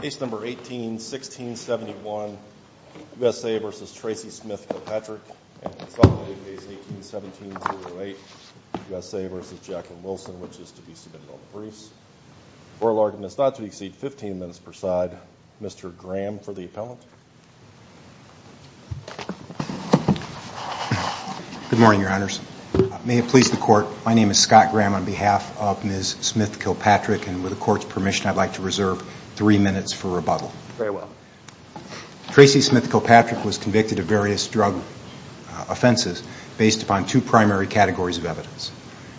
Case number 18-1671, U.S.A. v. Tracey Smith-Kilpatrick, 18-17-08, U.S.A. v. Jacqueline Wilson, which is to be submitted on the briefs. Oral argument is not to exceed 15 minutes per side. Mr. Graham for the appellant. Good morning, your honors. May it please the court, my name is Scott Graham on behalf of Ms. Smith-Kilpatrick and with the court's permission I'd like to reserve three minutes for rebuttal. Very well. Tracey Smith-Kilpatrick was convicted of various drug offenses based upon two primary categories of evidence.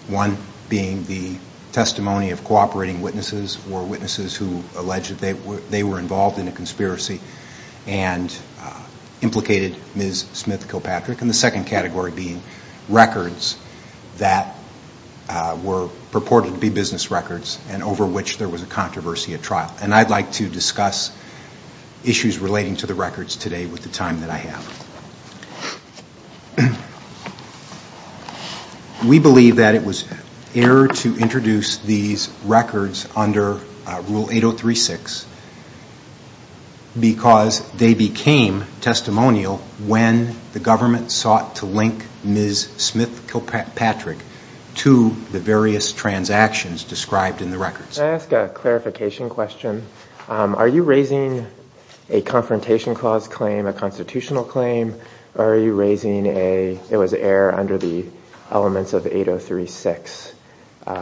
One being the testimony of cooperating witnesses or witnesses who alleged they were involved in a conspiracy and implicated Ms. Smith-Kilpatrick. And the second category being records that were purported to be business records and over which there was a controversy at trial. And I'd like to discuss issues relating to the records today with the time that I have. We believe that it was error to introduce these records under Rule 8036 because they became testimonial when the government sought to link Ms. Smith-Kilpatrick to the various transactions described in the records. Can I ask a clarification question? Are you raising a confrontation clause claim, a constitutional claim, or are you raising a, it was error under the elements of 8036,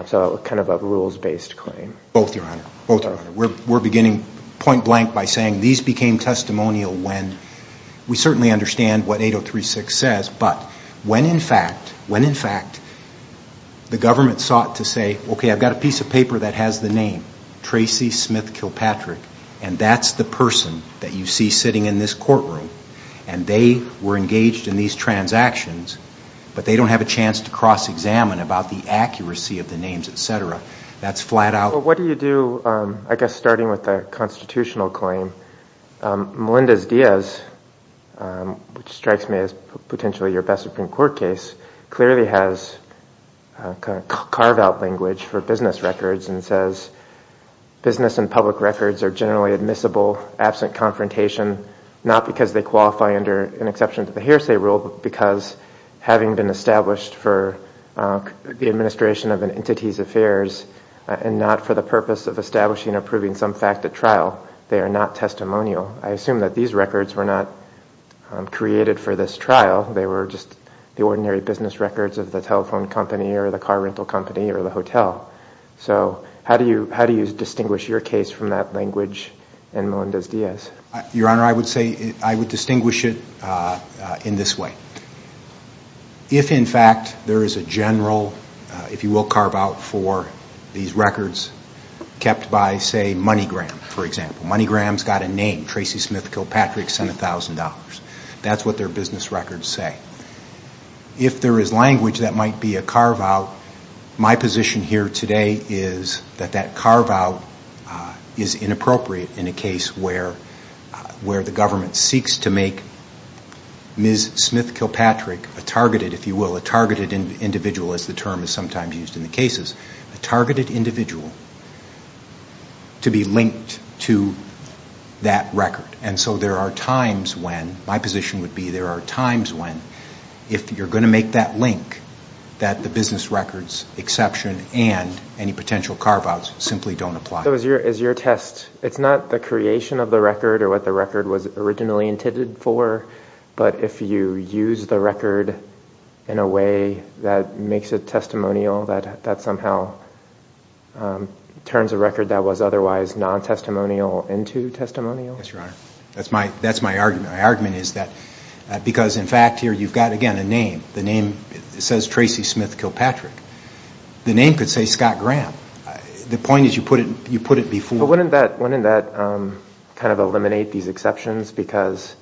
so kind of a rules-based claim? Both, your honor. Both, your honor. We're beginning point We certainly understand what 8036 says, but when in fact, when in fact the government sought to say, okay, I've got a piece of paper that has the name Tracey Smith-Kilpatrick, and that's the person that you see sitting in this courtroom, and they were engaged in these transactions, but they don't have a chance to cross-examine about the accuracy of the names, et cetera, that's flat out. Well, what do you do, I guess, starting with a constitutional claim? Melendez-Diaz, which strikes me as potentially your best Supreme Court case, clearly has carve-out language for business records and says business and public records are generally admissible absent confrontation, not because they qualify under an exception to the hearsay rule, but because having been established for the administration of an entity's affairs and not for the purpose of establishing or proving some fact at trial, they are not testimonial. I assume that these records were not created for this trial. They were just the ordinary business records of the telephone company or the car rental company or the hotel. So how do you distinguish your case from that language in Melendez-Diaz? Your honor, I would say, I would distinguish it in this way. If in fact there is a general, if you will, carve-out for these records kept by, say, MoneyGram, for example. MoneyGram's got a name, Tracy Smith Kilpatrick, sent $1,000. That's what their business records say. If there is language that might be a carve-out, my position here today is that that carve-out is inappropriate in a case where the government seeks to make Ms. Smith Kilpatrick a targeted, if you will, a targeted individual, as the term is sometimes used in the cases, a targeted individual to be linked to that record. And so there are times when, my position would be there are times when, if you're going to make that link, that the business records exception and any potential carve-outs simply don't apply. So is your test, it's not the creation of the record or what the record was originally intended for, but if you use the record in a way that makes it testimonial, that somehow turns a record that was otherwise non-testimonial into testimonial? Yes, your honor. That's my argument. My argument is that because in fact here you've got, again, a name. The name says Tracy Smith Kilpatrick. The name could say Scott Graham. The point is you put it before. But wouldn't that kind of eliminate these exceptions? Because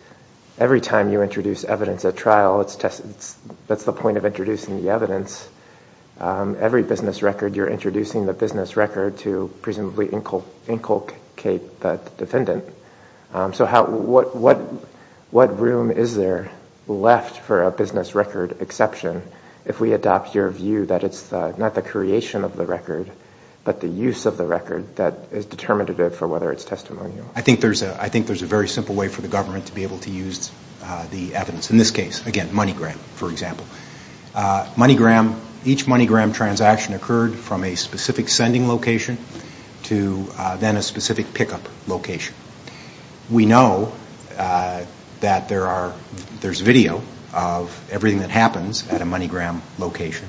every time you introduce evidence at trial, that's the point of introducing the evidence. Every business record, you're introducing the business record to presumably inculcate the defendant. So what room is there left for a business record exception if we adopt your view that it's not the creation of the record, but the use of the record that is determinative for whether it's testimonial? I think there's a very simple way for the government to be able to use the evidence. In this case, again, MoneyGram, for example. Each MoneyGram transaction occurred from a specific sending location to then a specific pickup location. We know that there's video of everything that happens at a MoneyGram location.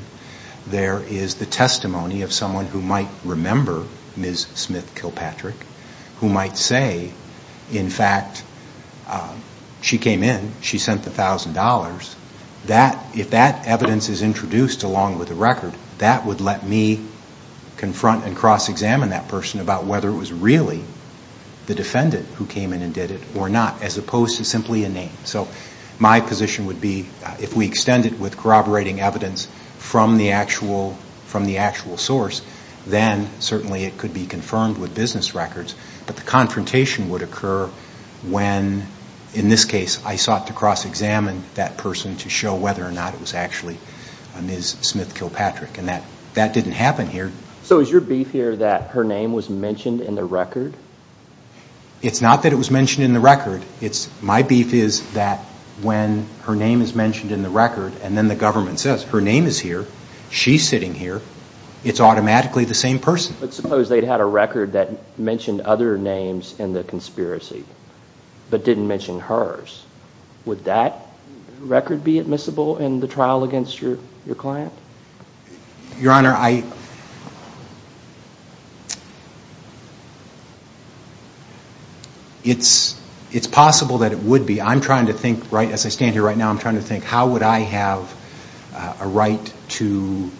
There is the testimony of someone who might remember Ms. Smith Kilpatrick, who might say, in fact, she came in, she sent the $1,000. If that evidence is introduced along with the record, that would let me confront and cross-examine that person about whether it was really the defendant who came in and if we extend it with corroborating evidence from the actual source, then certainly it could be confirmed with business records. But the confrontation would occur when, in this case, I sought to cross-examine that person to show whether or not it was actually Ms. Smith Kilpatrick. That didn't happen here. So is your beef here that her name was mentioned in the record? It's not that it was mentioned in the record. My beef is that when her name is mentioned in the record and then the government says, her name is here, she's sitting here, it's automatically the same person. But suppose they'd had a record that mentioned other names in the conspiracy, but didn't mention hers. Would that record be admissible in the trial against your client? Your Honor, it's possible that it would be. As I stand here right now, I'm trying to think, how would I have a right to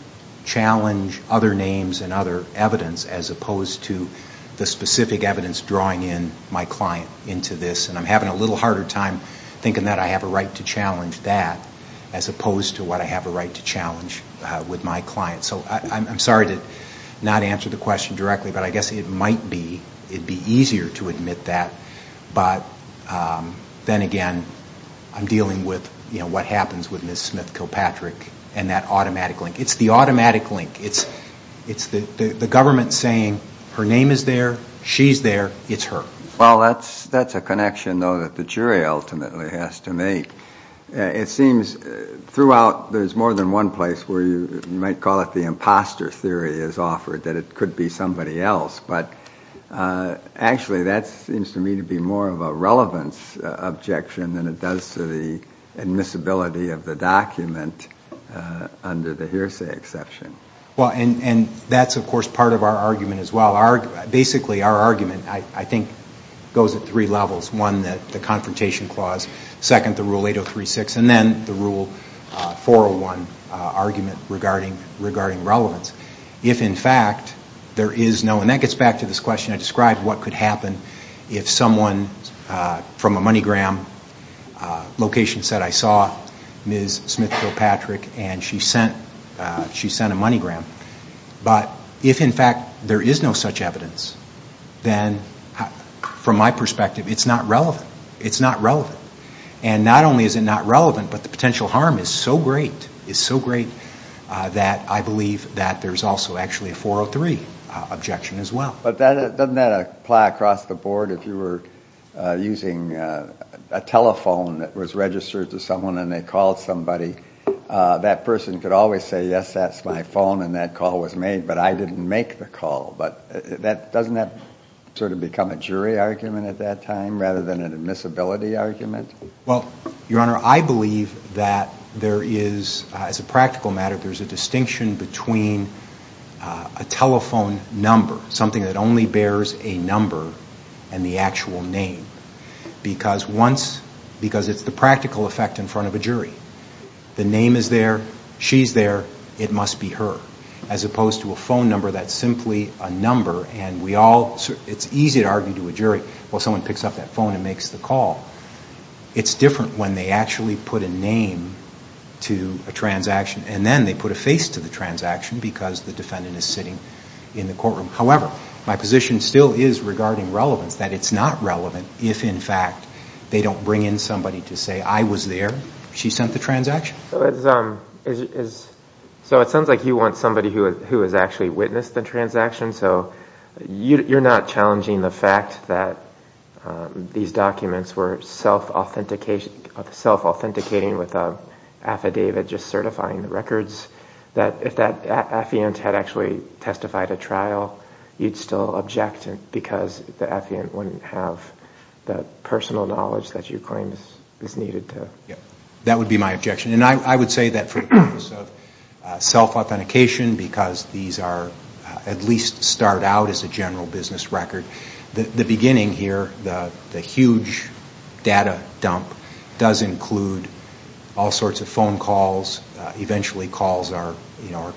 challenge other names and other evidence as opposed to the specific evidence drawing in my client into this? And I'm having a little harder time thinking that I have a right to challenge that as opposed to what I have a right to challenge with my client. So I'm sorry to not answer the question directly, but I guess it might be it'd be easier to admit that. But then again, I'm dealing with what happens with Ms. Smith Kilpatrick and that automatic link. It's the automatic link. It's the government saying, her name is there, she's there, it's her. Well, that's a connection, though, that the jury ultimately has to make. It seems throughout there's more than one place where you might call it the imposter theory is offered that it could be somebody else. But actually, that seems to me to be more of a relevance objection than it does to the admissibility of the document under the hearsay exception. And that's, of course, part of our argument as well. Basically, our argument, I think, goes at three levels. One, the confrontation clause. Second, the Rule 8036. And then the Rule 401 argument regarding relevance. If, in fact, there is no, and that gets back to this question I described, what could happen if someone from a MoneyGram location said, I saw Ms. Smith Kilpatrick and she sent a MoneyGram. But if, in fact, there is no such evidence, then from my perspective, it's not relevant. It's not relevant. And not only is it not relevant, but the potential harm is so great, is so great, that I believe that there's also actually a 403 objection as well. But doesn't that apply across the board? If you were using a telephone that was registered to someone and they called somebody, that person could always say, yes, that's my phone and that call was made, but I didn't make the call. But doesn't that sort of become a jury argument at that time rather than an admissibility argument? Well, Your Honor, I believe that there is, as a practical matter, there's a distinction between a telephone number, something that only bears a number and the actual name. Because once, because it's the practical effect in front of a jury, the name is there, she's there, it must be her. As opposed to a phone number that's simply a number and we all, it's easy to argue to a jury, well, someone picks up that phone and makes the call. It's different when they actually put a name to a transaction and then they put a face to the transaction because the defendant is sitting in the courtroom. However, my position still is regarding relevance, that it's not relevant if, in fact, they don't bring in somebody to say, I was there, she sent the transaction. So it sounds like you want somebody who has actually witnessed the transaction, so you're not challenging the fact that these documents were self-authenticating with an affidavit just certifying the records, that if that affiant had actually testified at trial, you'd still object because the affiant wouldn't have the personal knowledge that you claim is needed to. That would be my objection. And I would say that for the purpose of self-authentication, because these are, at least start out as a general business record, the beginning here, the huge data dump does include all sorts of phone calls, eventually calls are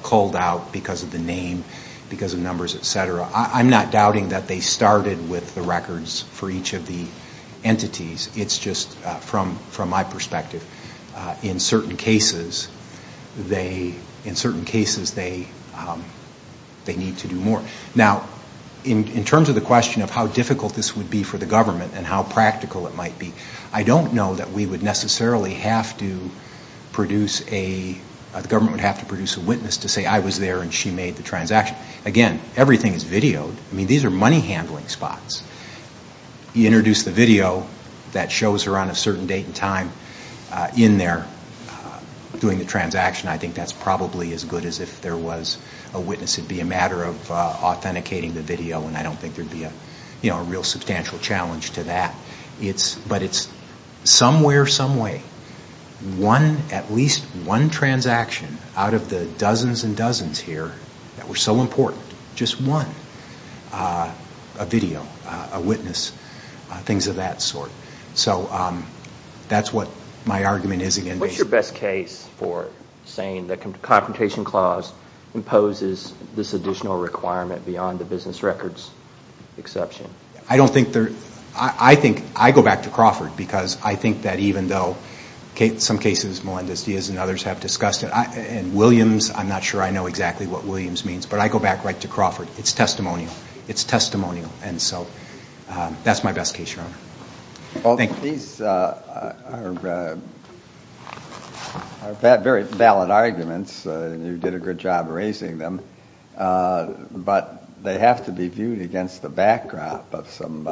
culled out because of the name, because of numbers, et cetera. I'm not doubting that they started with the records for each of the entities. It's just, from my perspective, in certain cases they need to do more. Now, in terms of the question of how difficult this would be for the government and how practical it might be, I don't know that we would necessarily have to produce a, the government would have to produce a witness to say, I was there and she made the transaction. Again, everything is videoed. I mean, these are money handling spots. You introduce the video that shows her on a certain date and time in there doing the transaction, I think that's probably as a matter of authenticating the video and I don't think there would be a real substantial challenge to that. But it's some way or some way, at least one transaction out of the dozens and dozens here that were so important, just one, a video, a witness, things of that sort. So that's what my argument is again. What's your best case for saying the Confrontation Clause imposes this additional requirement beyond the business records exception? I don't think there, I think, I go back to Crawford because I think that even though some cases, Melendez-Diaz and others have discussed it, and Williams, I'm not sure I know exactly what Williams means, but I go back right to Crawford. It's testimonial. It's testimonial and so that's my best case, Your Honor. Well, these are very valid arguments and you did a good job raising them, but they have to be viewed against the backdrop of some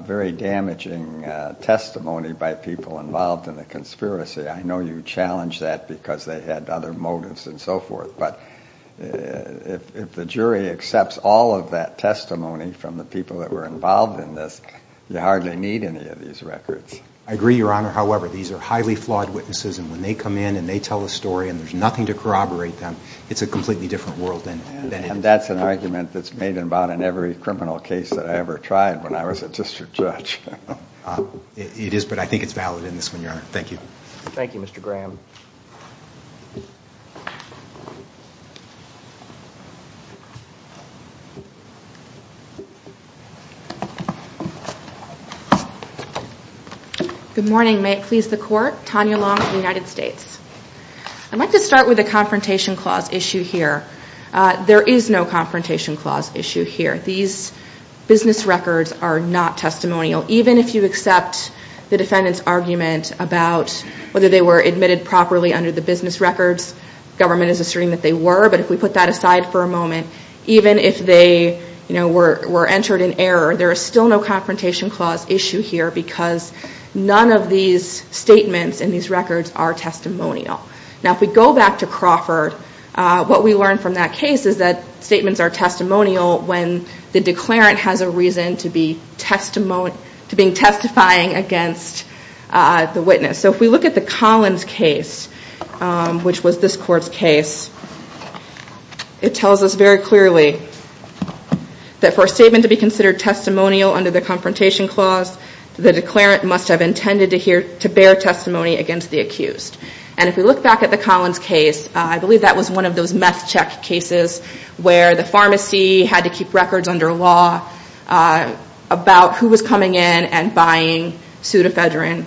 very damaging testimony by people involved in the conspiracy. I know you challenged that because they had other motives and so forth, but if the jury accepts all of that testimony from the people that were involved in this, you hardly need any of these records. I agree, Your Honor. However, these are highly flawed witnesses and when they come in and they tell a story and there's nothing to corroborate them, it's a completely different world. That's an argument that's made about in every criminal case that I ever tried when I was a district judge. It is, but I think it's valid in this one, Your Honor. Thank you. Thank you, Mr. Graham. Good morning. May it please the Court. Tanya Long, United States. I'd like to start with a confrontation clause issue here. There is no confrontation clause issue here. These business records are not testimonial. Even if you accept the defendant's argument about whether they were admitted properly under the business records, government is asserting that they were, but if we put that aside for a moment, even if they were entered in error, there is still no confrontation clause issue here because none of these statements in these records are testimonial. Now if we go back to Crawford, what we learned from that case is that statements are testimonial when the declarant has a reason to be testifying against the witness. So if we look at the Collins case, which was this Court's case, it tells us very clearly that for a statement to be considered testimonial under the confrontation clause, the declarant must have intended to bear testimony against the accused. And if we look back at the Collins case, I believe that was one of those meth check cases where the pharmacy had to keep records under law about who was coming in and buying pseudo-phedrine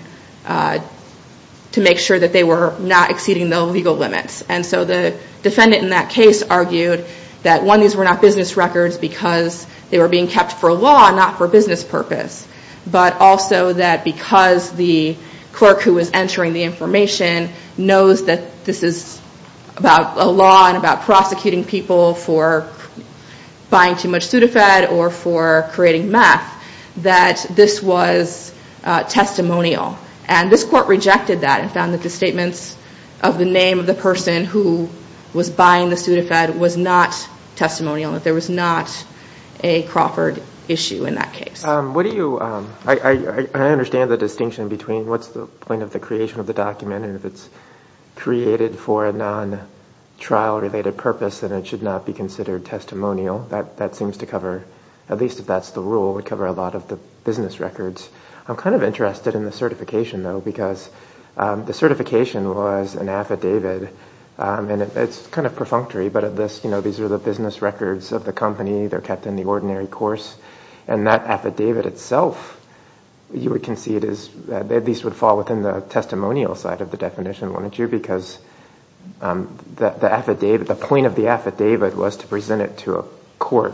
to make sure that they were not exceeding the legal limits. And so the defendant in that case argued that one, these were not business records because they were being kept for law, not for business purpose, but also that because the clerk who was entering the information knows that this is about a law and about prosecuting people for buying too much pseudo-phed or for creating meth, that this was testimonial. And this Court rejected that and found that the statements of the name of the person who was buying the pseudo-phed was not testimonial, that there was not a Crawford issue in that case. What do you, I understand the distinction between what's the point of the creation of the document and if it's created for a non-trial related purpose, then it should not be considered testimonial. That seems to cover, at least if that's the rule, would cover a lot of the business records. I'm kind of interested in the certification though, because the certification was an affidavit and it's kind of perfunctory, but at this, you know, these are the business records of the company. They're kept in the ordinary course and that affidavit itself, you would concede is, at least would fall within the testimonial side of the definition, wouldn't you? Because the affidavit, the point of the affidavit was to present it to a court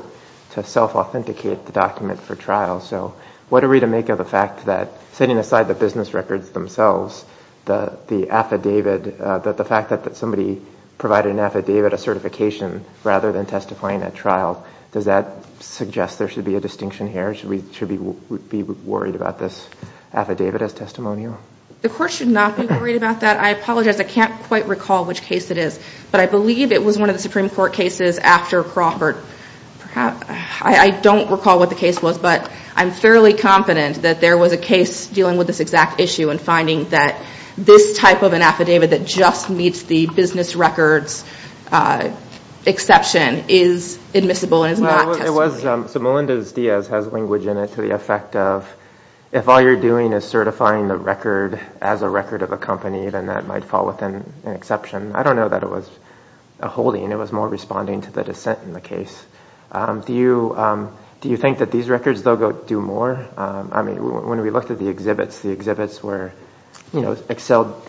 to self-authenticate the document for trial. So what are we to make of the fact that, setting aside the business records themselves, the affidavit, the fact that somebody provided an affidavit, a certification, rather than testifying at trial, does that suggest there should be a distinction here? Should we be worried about this affidavit as testimonial? The court should not be worried about that. I apologize. I can't quite recall which case it is, but I believe it was one of the Supreme Court cases after Crawford. I don't recall what the case was, but I'm fairly confident that there was a case dealing with this exact issue and finding that this type of an affidavit that just meets the business records exception is admissible and is not testifying. So Melendez-Diaz has language in it to the effect of, if all you're doing is certifying the record as a record of a company, then that might fall within an exception. I don't know that it was a holding. It was more responding to the dissent in the case. Do you think that these records, though, do more? I mean, when we looked at the exhibits, the exhibits were, you know, Excel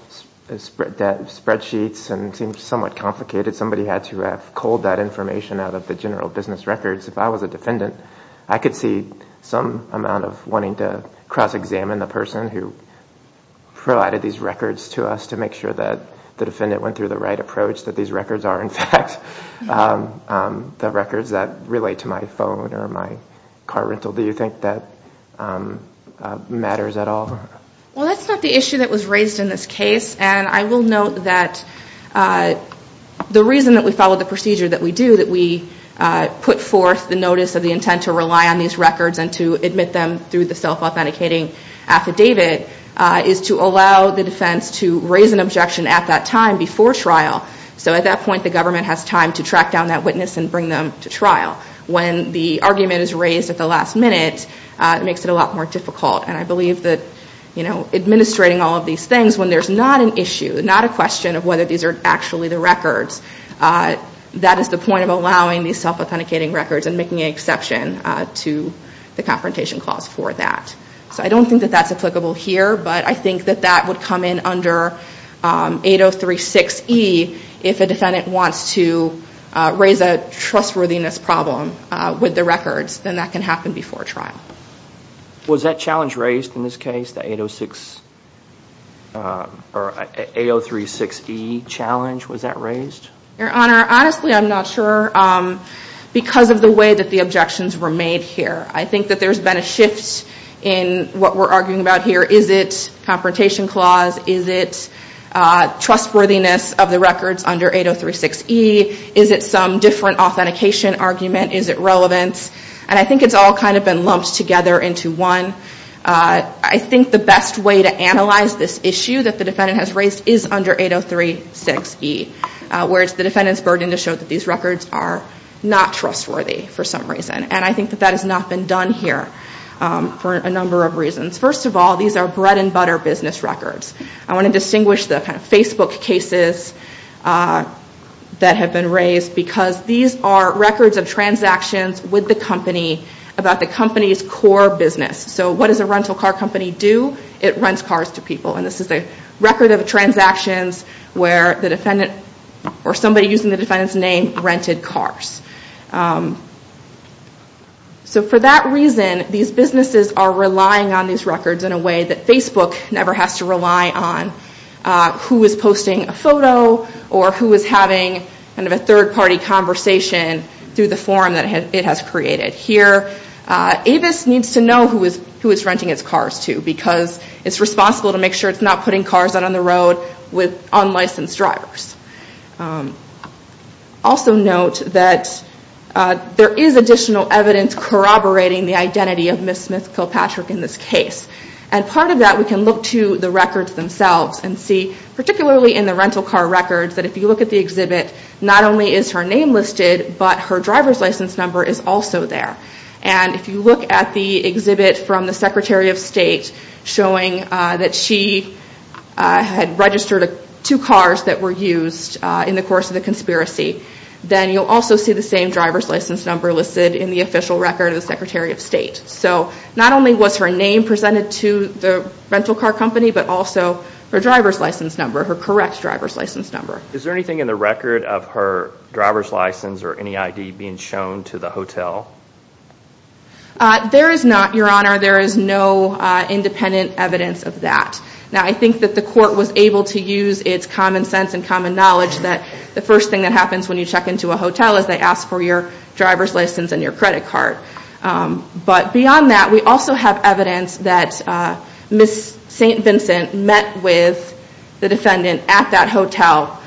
spreadsheets and seemed somewhat complicated. Somebody had to have culled that information out of the general business records. If I was a defendant, I could see some amount of wanting to cross-examine the person who provided these records to us to make sure that the defendant went through the right process. But the records that relate to my phone or my car rental, do you think that matters at all? Well, that's not the issue that was raised in this case. And I will note that the reason that we followed the procedure that we do, that we put forth the notice of the intent to rely on these records and to admit them through the self-authenticating affidavit, is to allow the defense to raise an objection at that time before trial. So at that point, the government has time to track down that witness and bring them to trial. When the argument is raised at the last minute, it makes it a lot more difficult. And I believe that, you know, administrating all of these things when there's not an issue, not a question of whether these are actually the records, that is the point of allowing these self-authenticating records and making an exception to the confrontation clause for that. So I don't think that that's applicable here. But I think that that would come in under 803.6e if a defendant wants to raise a trustworthiness problem with the records, then that can happen before trial. Was that challenge raised in this case, the 806 or 803.6e challenge? Was that raised? Your Honor, honestly, I'm not sure because of the way that the objections were made here. I think that there's been a shift in what we're arguing about here. Is it confrontation clause? Is it trustworthiness of the records under 803.6e? Is it some different authentication argument? Is it relevant? And I think it's all kind of been lumped together into one. I think the best way to analyze this issue that the defendant has raised is under 803.6e, where it's the defendant's burden to show that these records are not trustworthy for some reason. First of all, these are bread and butter business records. I want to distinguish the Facebook cases that have been raised because these are records of transactions with the company about the company's core business. So what does a rental car company do? It rents cars to people. And this is a record of transactions where the defendant or somebody using the defendant's name rented cars. So for that reason, these businesses are relying on these records in a way that Facebook never has to rely on who is posting a photo or who is having a third-party conversation through the forum that it has created. Here, Avis needs to know who it's renting its cars to because it's responsible to make sure it's not putting cars out on the road with unlicensed drivers. Also note that there is additional evidence corroborating the identity of Ms. Smith Kilpatrick in this case. And part of that, we can look to the records themselves and see, particularly in the rental car records, that if you look at the exhibit, not only is her name listed, but her driver's license number is also there. And if you look at the exhibit from the Secretary of State showing that she had registered two cars that were used in the course of the conspiracy, then you'll also see the same driver's license number listed in the official record of the Secretary of State. So not only was her name presented to the rental car company, but also her driver's license number, her correct driver's license number. Is there anything in the record of her driver's license or any ID being shown to the hotel? There is not, Your Honor. There is no independent evidence of that. Now I think that the court was able to use its common sense and common knowledge that the first thing that happens when you check into a hotel is they ask for your driver's license and your credit card. But beyond that, we also have evidence that Ms. St. Vincent met with the defendant at that hotel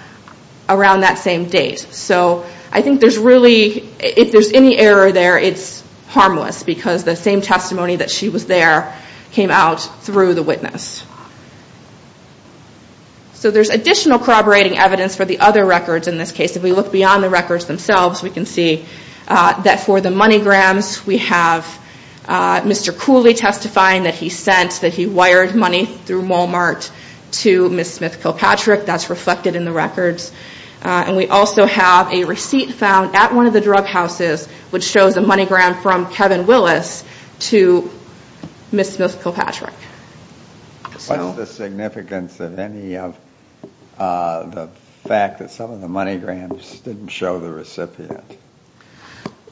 around that same date. So I think there's really, if there's any error there, it's harmless because the same So there's additional corroborating evidence for the other records in this case. If we look beyond the records themselves, we can see that for the money grams, we have Mr. Cooley testifying that he sent, that he wired money through Walmart to Ms. Smith Kilpatrick. That's reflected in the records. And we also have a receipt found at one of the drug houses which shows a money gram from Kevin Willis to Ms. Smith Kilpatrick. What's the significance of any of the fact that some of the money grams didn't show the recipient?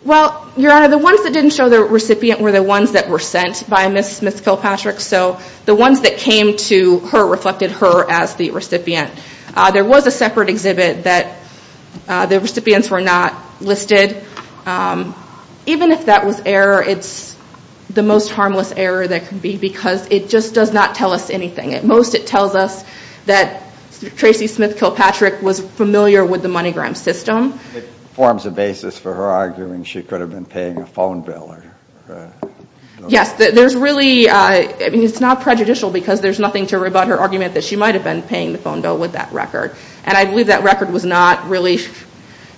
Well, Your Honor, the ones that didn't show the recipient were the ones that were sent by Ms. Smith Kilpatrick. So the ones that came to her reflected her as the recipient. There was a separate exhibit that the recipients were not listed. Even if that was error, it's the most harmless error that can be because it just does not tell us anything. At most, it tells us that Tracy Smith Kilpatrick was familiar with the money gram system. It forms a basis for her arguing she could have been paying a phone bill. Yes. There's really, I mean, it's not prejudicial because there's nothing to rebut her argument that she might have been paying the phone bill with that record. And I believe that record was not really,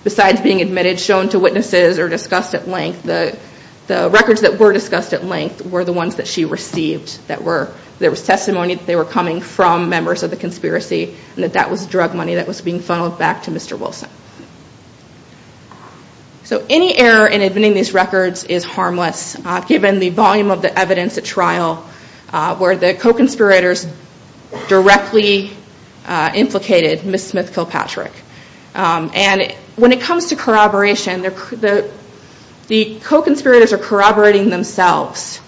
besides being admitted, shown to witnesses or discussed at length. The records that were discussed at length were the ones that she received. There was testimony that they were coming from members of the conspiracy and that that was drug money that was being funneled back to Mr. Wilson. So any error in admitting these records is harmless given the volume of the evidence at trial where the co-conspirators directly implicated Ms. Smith Kilpatrick. And when it comes to corroboration, the co-conspirators are corroborating themselves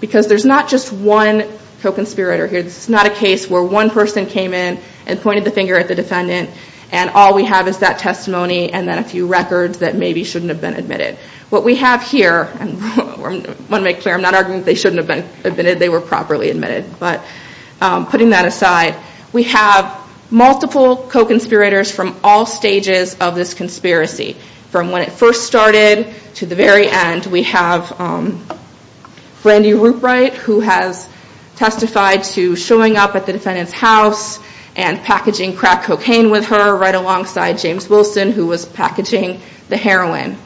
because there's not just one co-conspirator here. This is not a case where one person came in and pointed the finger at the defendant and all we have is that testimony and then a few records that maybe shouldn't have been admitted. What we have here, I want to make clear, I'm not arguing they shouldn't have been admitted, they were properly admitted, but putting that aside, we have multiple co-conspirators from all stages of this conspiracy. From when it first started to the very end, we have Brandy Rupright who has testified to showing up at the defendant's house and packaging crack cocaine with her right alongside James Wilson who was packaging the heroin.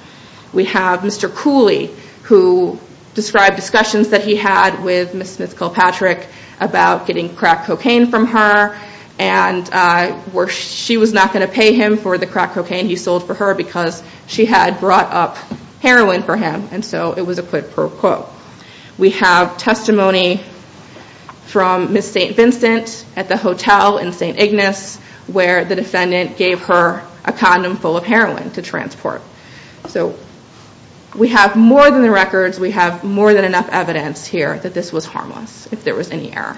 We have Mr. Cooley who described discussions that he had with Ms. Smith Kilpatrick about getting crack cocaine from her and she was not going to pay him for the crack cocaine he sold for her because she had brought up heroin for him and so it was a quid pro quo. We have testimony from Ms. St. Vincent at the hotel in St. Ignace where the defendant gave her a condom full of heroin to transport. We have more than the records, we have more than enough evidence here that this was harmless if there was any error.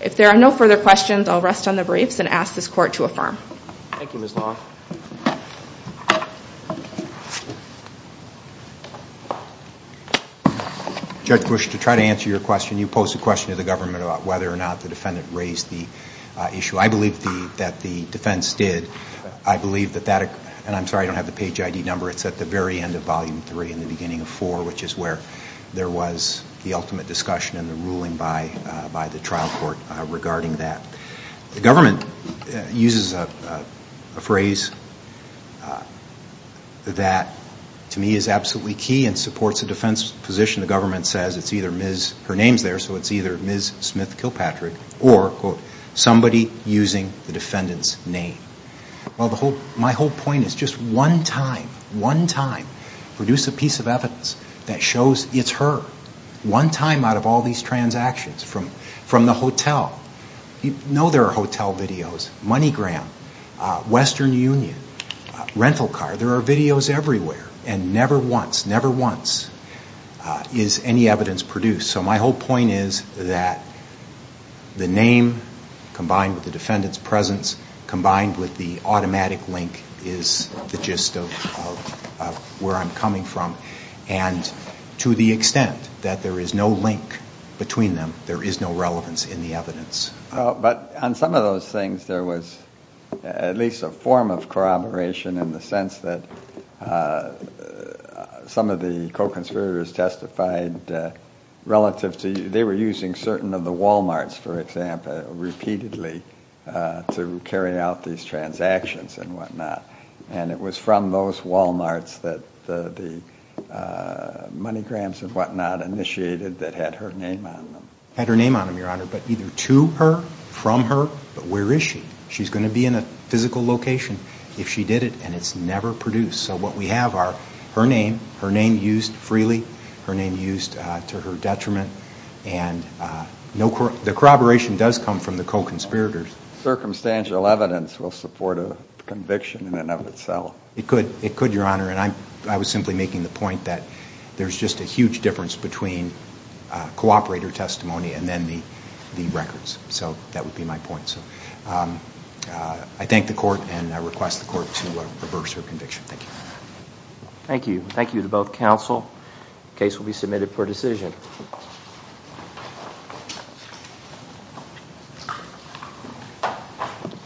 If there are no further questions, I'll rest on the briefs and ask this court to affirm. Thank you, Ms. Long. Judge Bush, to try to answer your question, you posed a question to the government about whether or not the defendant raised the issue. I believe that the defense did. I believe that that, and I'm sorry I don't have the page ID number, it's at the very end of volume three and the beginning of four which is where there was the ultimate discussion and the ruling by the trial court regarding that. The government uses a phrase that to me is absolutely key and supports the defense position. The government says it's either Ms., her name's there, so it's either Ms. Smith Kilpatrick or somebody using the defendant's name. My whole point is just one time, one time, produce a piece of evidence that shows it's her. One time out of all these transactions, from the hotel, you know there are hotel videos, MoneyGram, Western Union, Rental Car, there are videos everywhere and never once, never once is any evidence produced. So my whole point is that the name combined with the defendant's presence combined with the automatic link is the gist of where I'm coming from and to the extent that there is no link between them, there is no relevance in the evidence. But on some of those things there was at least a form of corroboration in the sense that some of the co-conspirators testified relative to, they were using certain of the Walmarts, for example, repeatedly to carry out these transactions and whatnot. And it was from those Walmarts that the MoneyGrams and whatnot initiated that had her name on them. Had her name on them, Your Honor, but either to her, from her, but where is she? She's going to be in a physical location if she did it and it's never produced. So what we have are her name, her name used freely, her name used to her detriment, and the corroboration does come from the co-conspirators. Circumstantial evidence will support a conviction in and of itself. It could, it could, Your Honor, and I was simply making the point that there's just a huge difference between cooperator testimony and then the records. So that would be my point. So I thank the Court and I request the Court to reverse her conviction. Thank you. Thank you. Thank you to both counsel. The case will be submitted for decision.